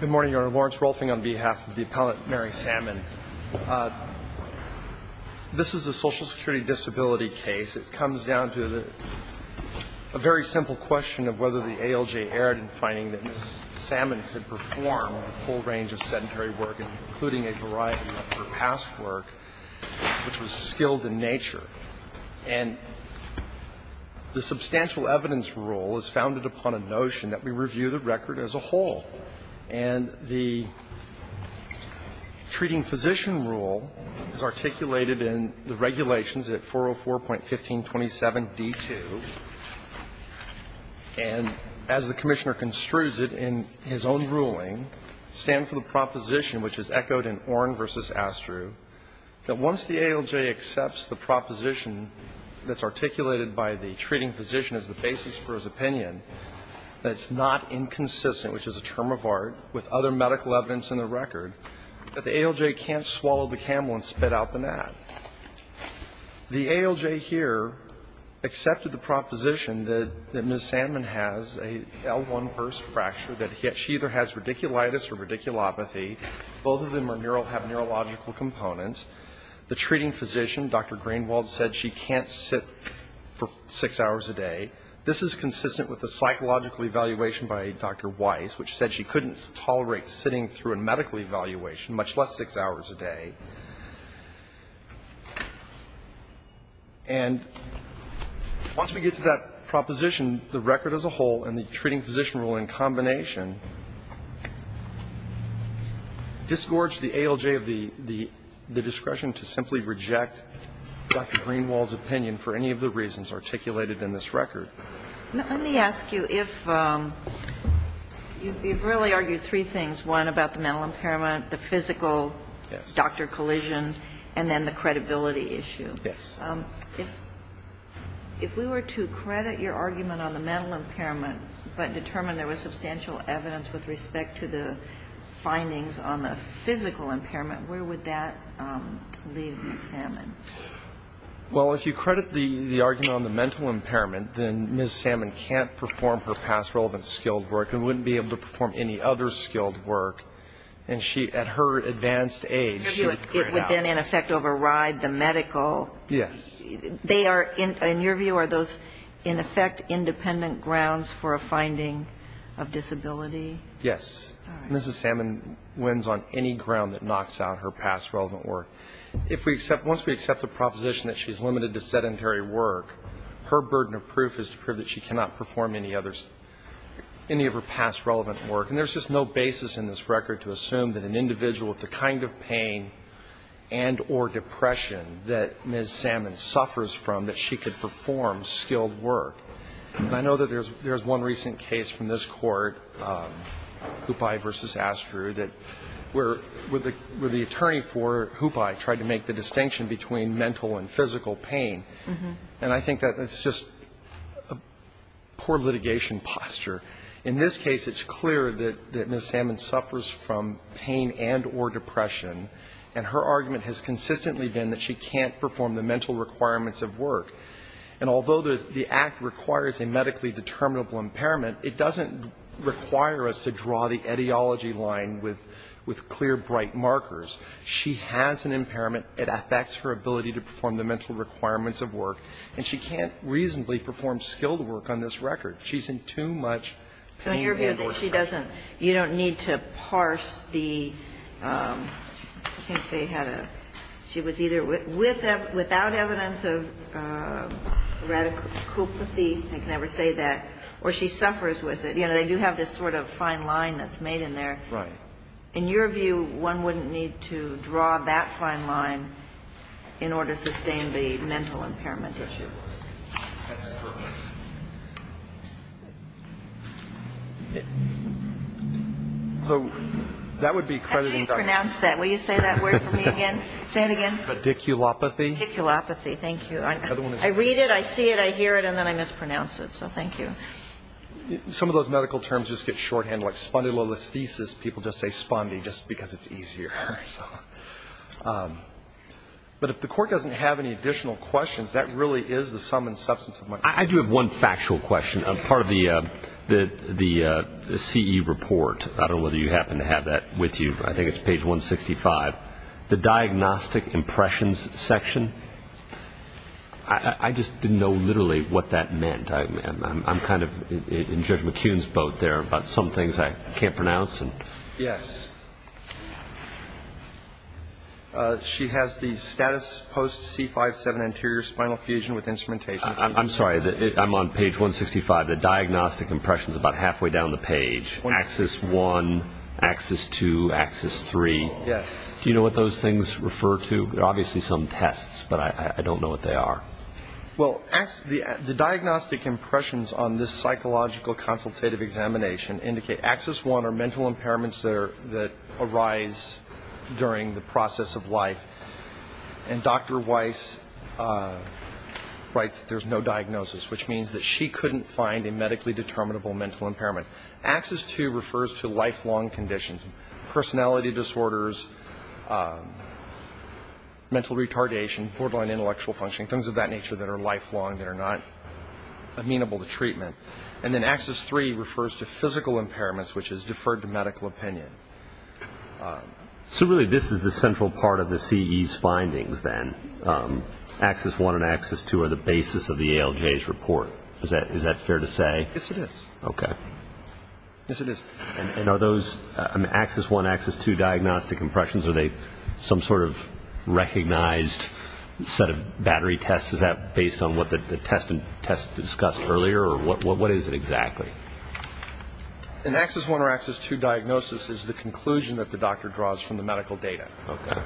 Good morning, Your Honor. Lawrence Rolfing on behalf of the Appellant Mary Salmon. This is a Social Security disability case. It comes down to a very simple question of whether the ALJ erred in finding that Ms. Salmon could perform a full range of sedentary work, including a variety of her past work, which was skilled in nature. And the substantial evidence rule is founded upon a notion that we review the record as a whole. And the treating physician rule is articulated in the regulations at 404.1527d2. And as the Commissioner construes it in his own ruling, stand for the proposition, which is echoed in Orn v. Astrue, that once the ALJ accepts the proposition that's articulated by the basis for his opinion, that it's not inconsistent, which is a term of art, with other medical evidence in the record, that the ALJ can't swallow the camel and spit out the gnat. The ALJ here accepted the proposition that Ms. Salmon has an L1 burst fracture, that she either has radiculitis or radiculopathy. Both of them have neurological components. The treating physician, Dr. Greenwald, said she can't sit for six hours a day. This is consistent with a psychological evaluation by Dr. Weiss, which said she couldn't tolerate sitting through a medical evaluation, much less six hours a day. And once we get to that proposition, the record as a whole and the treating physician rule in combination disgorge the ALJ of the discretion to simply reject Dr. Greenwald's opinion for any of the reasons articulated in this record. Now, let me ask you if you've really argued three things, one about the mental impairment, the physical, Dr. Collision, and then the credibility issue. Yes. If we were to credit your argument on the mental impairment, but determine there was substantial evidence with respect to the findings on the physical impairment, where would that leave Ms. Salmon? Well, if you credit the argument on the mental impairment, then Ms. Salmon can't perform her past relevant skilled work and wouldn't be able to perform any other skilled work. And she, at her advanced age, she would figure it out. It would then, in effect, override the medical. Yes. They are, in your view, are those, in effect, independent grounds for a finding of disability? Yes. All right. Ms. Salmon wins on any ground that knocks out her past relevant work. If we accept, once we accept the proposition that she's limited to sedentary work, her burden of proof is to prove that she cannot perform any others, any of her past relevant work. And there's just no basis in this record to assume that an individual with the kind of pain and or depression that Ms. Salmon suffers from, that she could perform skilled work. And I know that there's one recent case from this Court, Hupai v. Astru, that where the attorney for Hupai tried to make the distinction between mental and physical pain. And I think that it's just a poor litigation posture. In this case, it's clear that Ms. Salmon suffers from pain and or depression. And her argument has consistently been that she can't perform the mental requirements of work. And although the Act requires a medically determinable impairment, it doesn't require us to draw the etiology line with clear, bright markers. She has an impairment. It affects her ability to perform the mental requirements of work. And she can't reasonably perform skilled work on this record. She's in too much pain and or depression. Ginsburg. In your view, she doesn't, you don't need to parse the, I think they had a, she was either without evidence of radical, I can never say that, or she suffers with it. You know, they do have this sort of fine line that's made in there. Right. In your view, one wouldn't need to draw that fine line in order to sustain the mental impairment issue. That's correct. So that would be crediting Dr. How do you pronounce that? Will you say that word for me again? Say it again. Pediculopathy. Pediculopathy. Thank you. I read it, I see it, I hear it, and then I mispronounce it. So thank you. Some of those medical terms just get shorthand like spondylolisthesis. People just say spondy just because it's easier. But if the court doesn't have any additional questions, that really is the sum and substance of my question. I do have one factual question. Part of the CE report, I don't know whether you happen to have that with you, I think it's page 165, the diagnostic impressions section, I just didn't know literally what that meant. I'm kind of in Judge McCune's boat there about some things I can't pronounce. Yes. She has the status post C57 anterior spinal fusion with instrumentation changes. I'm sorry, I'm on page 165. The diagnostic impressions are about halfway down the page. Axis 1, axis 2, axis 3. Yes. Do you know what those things refer to? They're obviously some tests, but I don't know what they are. Well, the diagnostic impressions on this psychological consultative examination indicate axis 1 are mental impairments that arise during the process of life. And Dr. Weiss writes that there's no diagnosis, which means that she couldn't find a medically determinable mental impairment. Axis 2 refers to lifelong conditions, personality disorders, mental retardation, borderline intellectual functioning, things of that nature that are lifelong, that are not amenable to treatment. And then axis 3 refers to physical impairments, which is deferred to medical opinion. So really this is the central part of the CE's findings then. Axis 1 and axis 2 are the basis of the ALJ's report. Is that fair to say? Yes, it is. Okay. Yes, it is. And are those axis 1, axis 2 diagnostic impressions, are they some sort of recognized set of battery tests? Is that based on what the test discussed earlier, or what is it exactly? An axis 1 or axis 2 diagnosis is the conclusion that the doctor draws from the medical data. Okay.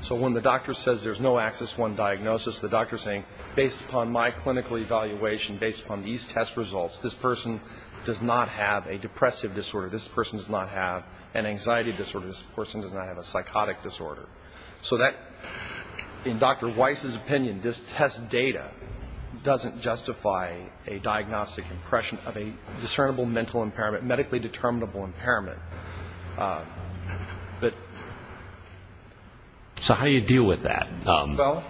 So when the doctor says there's no axis 1 diagnosis, the doctor is saying, based upon my clinical evaluation, based upon these test results, this person does not have a depressive disorder, this person does not have an anxiety disorder, this person does not have a psychotic disorder. So that, in Dr. Weiss's opinion, this test data doesn't justify a diagnostic impression of a discernible mental impairment, medically determinable impairment. So how do you deal with that? Well,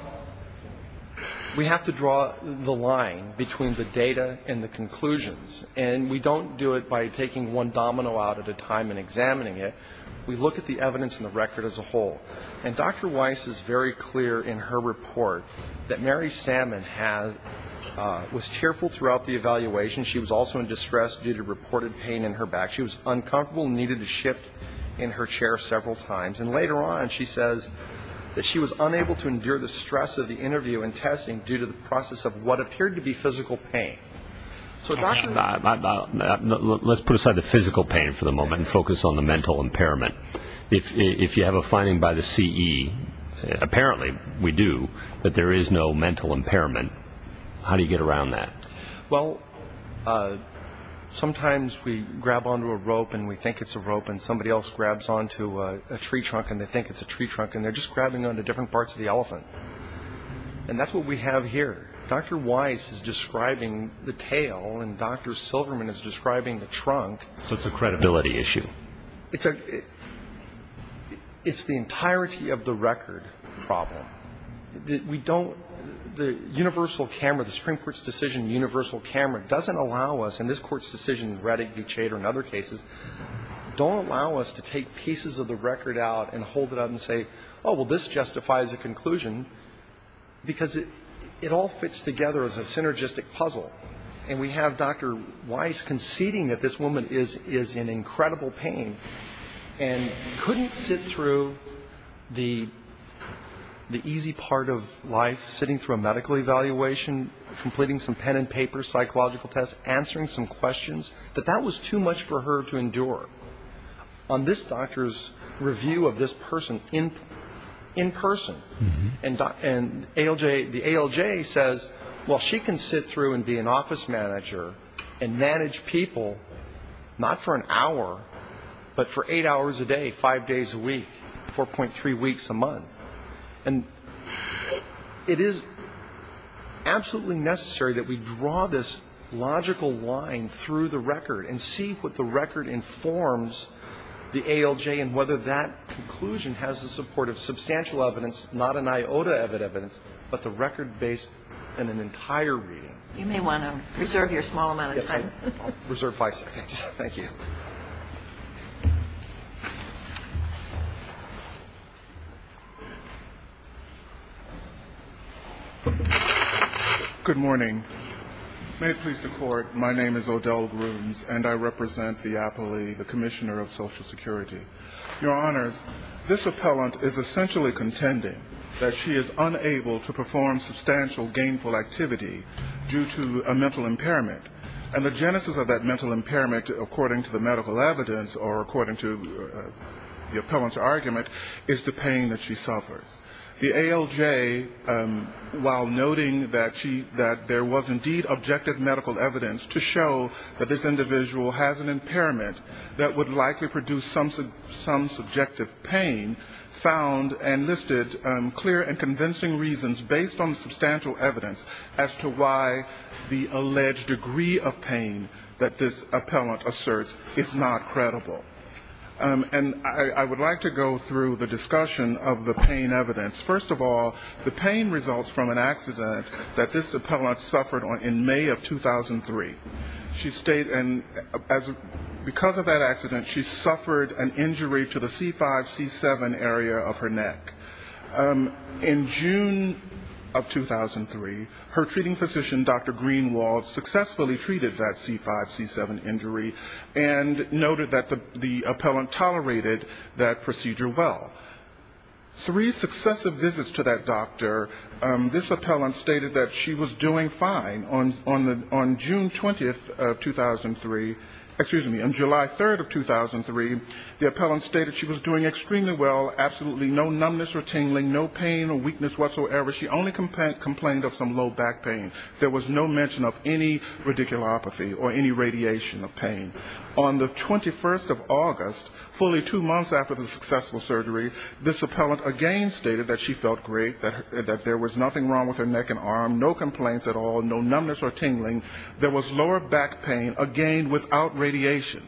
we have to draw the line between the data and the conclusions. And we don't do it by taking one domino out at a time and examining it. We look at the evidence and the record as a whole. And Dr. Weiss is very clear in her report that Mary Salmon was tearful throughout the evaluation. She was also in distress due to reported pain in her back. She was uncomfortable and needed to shift in her chair several times. And later on she says that she was unable to endure the stress of the interview and testing due to the process of what appeared to be physical pain. Let's put aside the physical pain for the moment and focus on the mental impairment. If you have a finding by the CE, apparently we do, that there is no mental impairment, how do you get around that? Well, sometimes we grab onto a rope and we think it's a rope and somebody else grabs onto a tree trunk and they think it's a tree trunk and they're just grabbing onto different parts of the elephant. And that's what we have here. Dr. Weiss is describing the tail and Dr. Silverman is describing the trunk. So it's a credibility issue. It's a – it's the entirety of the record problem. We don't – the universal camera, the Supreme Court's decision, universal camera, doesn't allow us, and this Court's decision in Reddick v. Chader and other cases, don't allow us to take pieces of the record out and hold it up and say, oh, well, this justifies a conclusion, because it all fits together as a synergistic puzzle. And we have Dr. Weiss conceding that this woman is in incredible pain and couldn't sit through the easy part of life, sitting through a medical evaluation, completing some pen and paper psychological tests, answering some questions, that that was too much for her to endure. On this doctor's review of this person in person, and ALJ – the ALJ says, well, she can sit through and be an office manager and manage people, not for an hour, but for eight hours a day, five days a week, 4.3 weeks a month. And it is absolutely necessary that we draw this logical line through the record and see what the record informs the ALJ and whether that conclusion has the support of substantial evidence, not an iota of evidence, but the record-based and an entire reading. You may want to reserve your small amount of time. Yes, I will. I'll reserve five seconds. Thank you. Good morning. May it please the Court, my name is Odell Grooms, and I represent the appellee, the Commissioner of Social Security. Your Honors, this appellant is essentially contending that she is unable to perform substantial gainful activity due to a mental impairment. And the genesis of that mental impairment, according to the medical evidence, or according to the appellant's argument, is the pain that she suffers. The ALJ, while noting that there was indeed objective medical evidence to show that this individual has an impairment that would likely produce some subjective pain, found and listed clear and convincing reasons based on substantial evidence as to why the alleged degree of pain that this appellant asserts is not credible. And I would like to go through the discussion of the pain evidence. First of all, the pain results from an accident that this appellant suffered in May of 2003. And because of that accident, she suffered an injury to the C5-C7 area of her neck. In June of 2003, her treating physician, Dr. Greenwald, successfully treated that C5-C7 injury and noted that the appellant tolerated that procedure well. Three successive visits to that doctor, this appellant stated that she was doing fine. On June 20th of 2003, excuse me, on July 3rd of 2003, the appellant stated she was doing extremely well, absolutely no numbness or tingling, no pain or weakness whatsoever. She only complained of some low back pain. There was no mention of any radiculopathy or any radiation of pain. On the 21st of August, fully two months after the successful surgery, this appellant again stated that she felt great, that there was nothing wrong with her neck and arm, no complaints at all, no numbness or tingling, there was lower back pain, again, without radiation.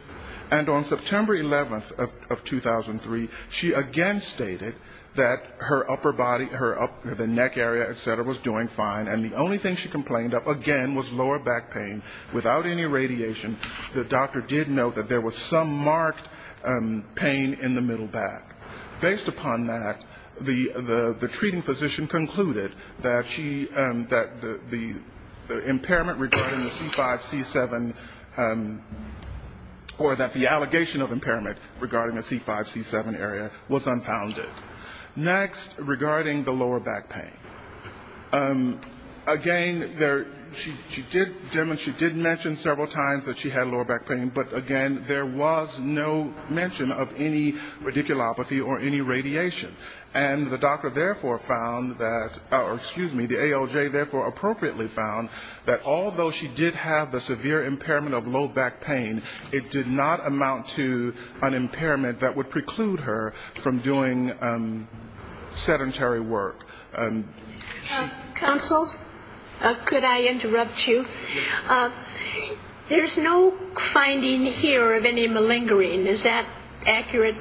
And on September 11th of 2003, she again stated that her upper body, the neck area, et cetera, was doing fine, and the only thing she complained of, again, was lower back pain, without any radiation. The doctor did note that there was some marked pain in the middle back. Based upon that, the treating physician concluded that the impairment regarding the C5-C7, or that the allegation of impairment regarding the C5-C7 area was unfounded. Next, regarding the lower back pain. Again, she did mention several times that she had lower back pain, but again, there was no mention of any radiculopathy or any radiation. And the doctor therefore found that, or excuse me, the ALJ therefore appropriately found that although she did have the severe impairment of low back pain, it did not amount to an impairment that would preclude her from doing sedentary work. Counsel, could I interrupt you? There's no finding here of any malingering. Is that accurate?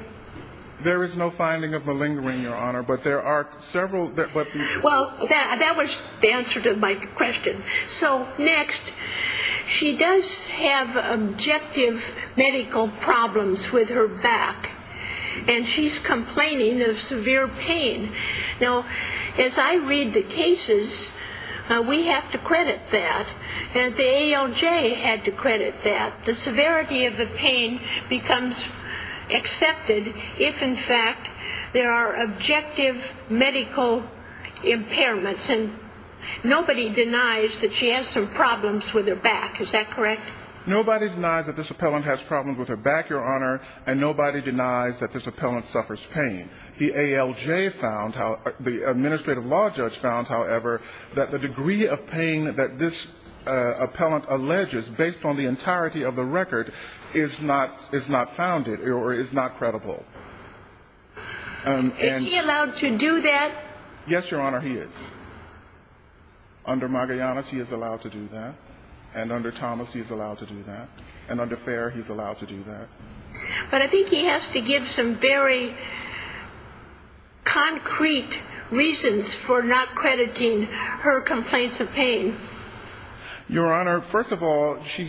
There is no finding of malingering, Your Honor, but there are several. Well, that was the answer to my question. So next, she does have objective medical problems with her back, and she's complaining of severe pain. Now, as I read the cases, we have to credit that. The ALJ had to credit that. The severity of the pain becomes accepted if in fact there are objective medical impairments, and nobody denies that she has some problems with her back. Is that correct? Nobody denies that this appellant has problems with her back, Your Honor, and nobody denies that this appellant suffers pain. The ALJ found, the administrative law judge found, however, that the degree of pain that this appellant alleges, based on the entirety of the record, is not founded or is not credible. Is he allowed to do that? Yes, Your Honor, he is. Under Magallanes, he is allowed to do that, and under Thomas, he is allowed to do that, and under Fair, he's allowed to do that. But I think he has to give some very concrete reasons for not crediting her complaints of pain. Your Honor, first of all, she,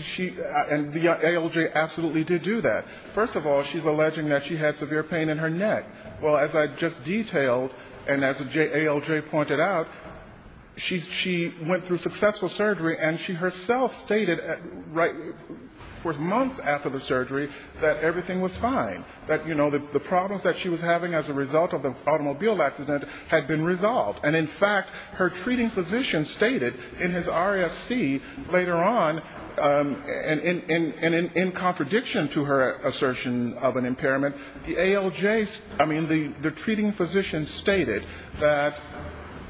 and the ALJ absolutely did do that. First of all, she's alleging that she had severe pain in her neck. Well, as I just detailed, and as the ALJ pointed out, she went through successful surgery, and she herself stated for months after the surgery that everything was fine, that, you know, the problems that she was having as a result of the automobile accident had been resolved. And, in fact, her treating physician stated in his RFC later on, and in contradiction to her assertion of an impairment, the ALJ, I mean, the treating physician stated that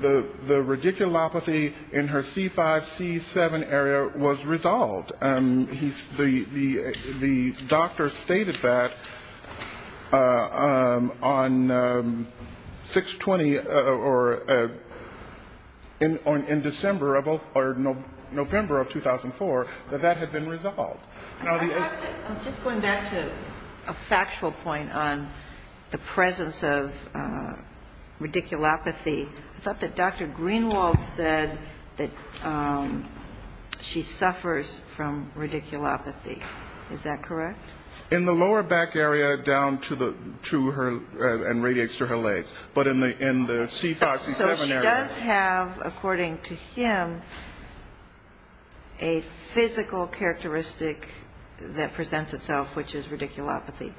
the radiculopathy in her C5-C7 area was resolved. The doctor stated that on 6-20 or 6-21, in December of, or November of 2004, that that had been resolved. Now, the... I'm just going back to a factual point on the presence of radiculopathy. I thought that Dr. Greenwald said that she suffers from radiculopathy. Is that correct? In the lower back area down to her, and radiates to her legs. But in the C5-C7 area... So she does have, according to him, a physical characteristic that presents itself, which is radiculopathy.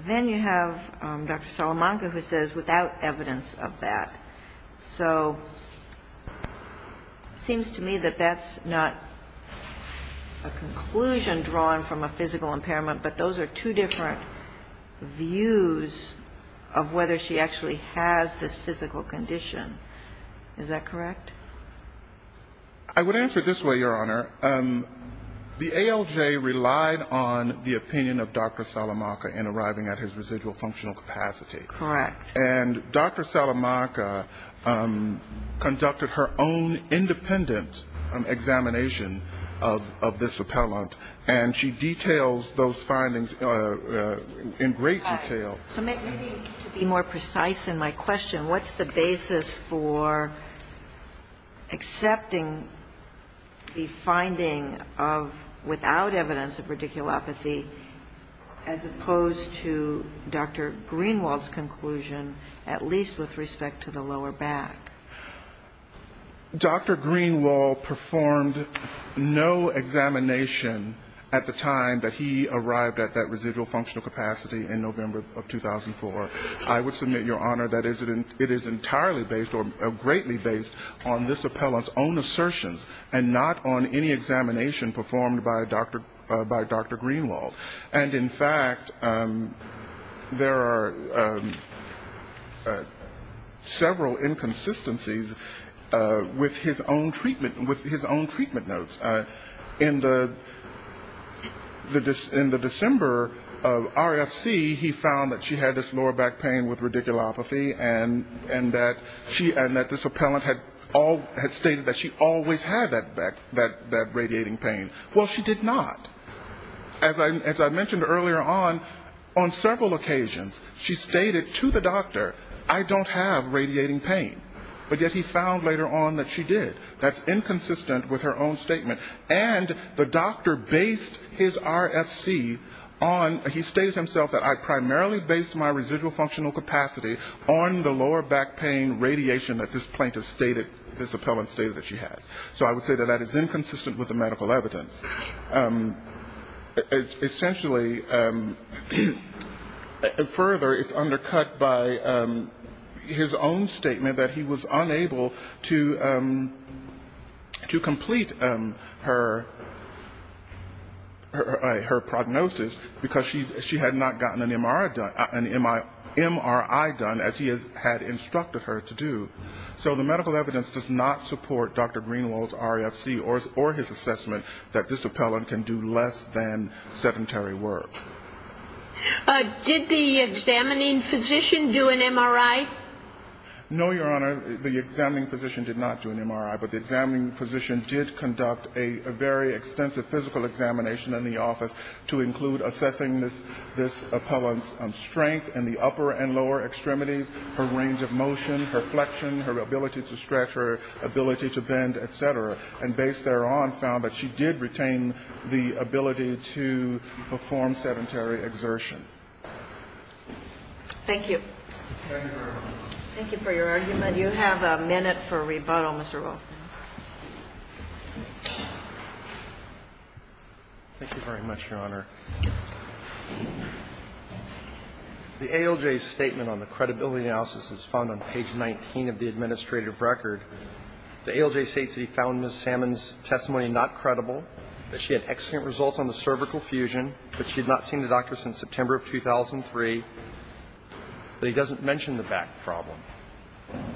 Then you have Dr. Salamanca who says without evidence of that. So it seems to me that that's not a conclusion drawn from a physical impairment. But those are two different views of whether she actually has this physical condition. Is that correct? I would answer it this way, Your Honor. The ALJ relied on the opinion of Dr. Salamanca in arriving at his residual functional capacity. Correct. And Dr. Salamanca conducted her own independent examination of this repellent. And she details those findings in great detail. So maybe to be more precise in my question, what's the basis for accepting the finding of without evidence of radiculopathy as opposed to Dr. Greenwald's conclusion, at least with respect to the lower back? Dr. Greenwald performed no examination at the time that he arrived at that residual functional capacity in November of 2004. I would submit, Your Honor, that it is entirely based or greatly based on this repellent's own assertions and not on any examination performed by Dr. Greenwald. And, in fact, there are several inconsistencies with his own treatment notes. In the December RFC, he found that she had this lower back pain with radiculopathy and that this repellent had stated that she always had that radiating pain. Well, she did not. As I mentioned earlier on, on several occasions, she stated to the doctor, I don't have radiating pain. But yet he found later on that she did. That's inconsistent with her own statement. And the doctor based his RFC on, he stated himself that I primarily based my residual functional capacity on the lower back pain radiation that this plaintiff stated, this repellent stated that she has. So I would say that that is inconsistent with the medical evidence. Essentially, further, it's undercut by his own statement that he was unable to complete his RFC. He was unable to complete her prognosis because she had not gotten an MRI done as he had instructed her to do. So the medical evidence does not support Dr. Greenwald's RFC or his assessment that this repellent can do less than sedentary work. Did the examining physician do an MRI? No, Your Honor, the examining physician did not do an MRI, but the examining physician did conduct a very extensive physical examination in the office to include assessing this repellent's strength in the upper and lower extremities, her range of motion, her flexion, her ability to stretch, her ability to bend, et cetera. And based thereon found that she did retain the ability to perform sedentary exertion. Thank you. Thank you for your argument. You have a minute for rebuttal, Mr. Wolfman. Thank you very much, Your Honor. The ALJ's statement on the credibility analysis is found on page 19 of the administrative record. The ALJ states that he found Ms. Salmon's testimony not credible, that she had excellent results on the cervical fusion, that she had not seen the doctor since September of 2003, that he doesn't mention the back problem.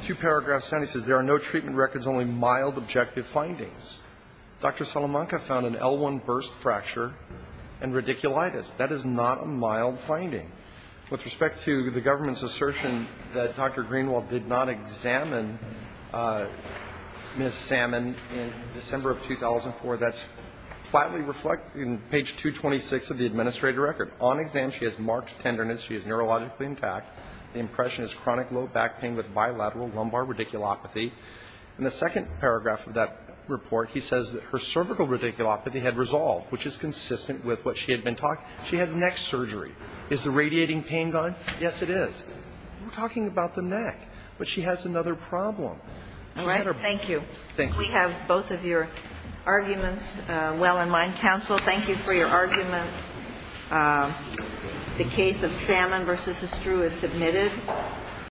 Two paragraphs down he says there are no treatment records, only mild objective findings. Dr. Salamanca found an L1 burst fracture and radiculitis. That is not a mild finding. With respect to the government's assertion that Dr. Greenwald did not examine Ms. Salmon in December of 2004, that's flatly reflected in page 226 of the administrative record. On exam she has marked tenderness. She is neurologically intact. The impression is chronic low back pain with bilateral lumbar radiculopathy. In the second paragraph of that report he says that her cervical radiculopathy had resolved, which is consistent with what she had been talking about. She had neck surgery. Is the radiating pain gone? Yes, it is. We're talking about the neck. But she has another problem. All right. Thank you. Thank you. We have both of your arguments well in mind. Counsel, thank you for your argument. The case of Salmon v. Estrue is submitted.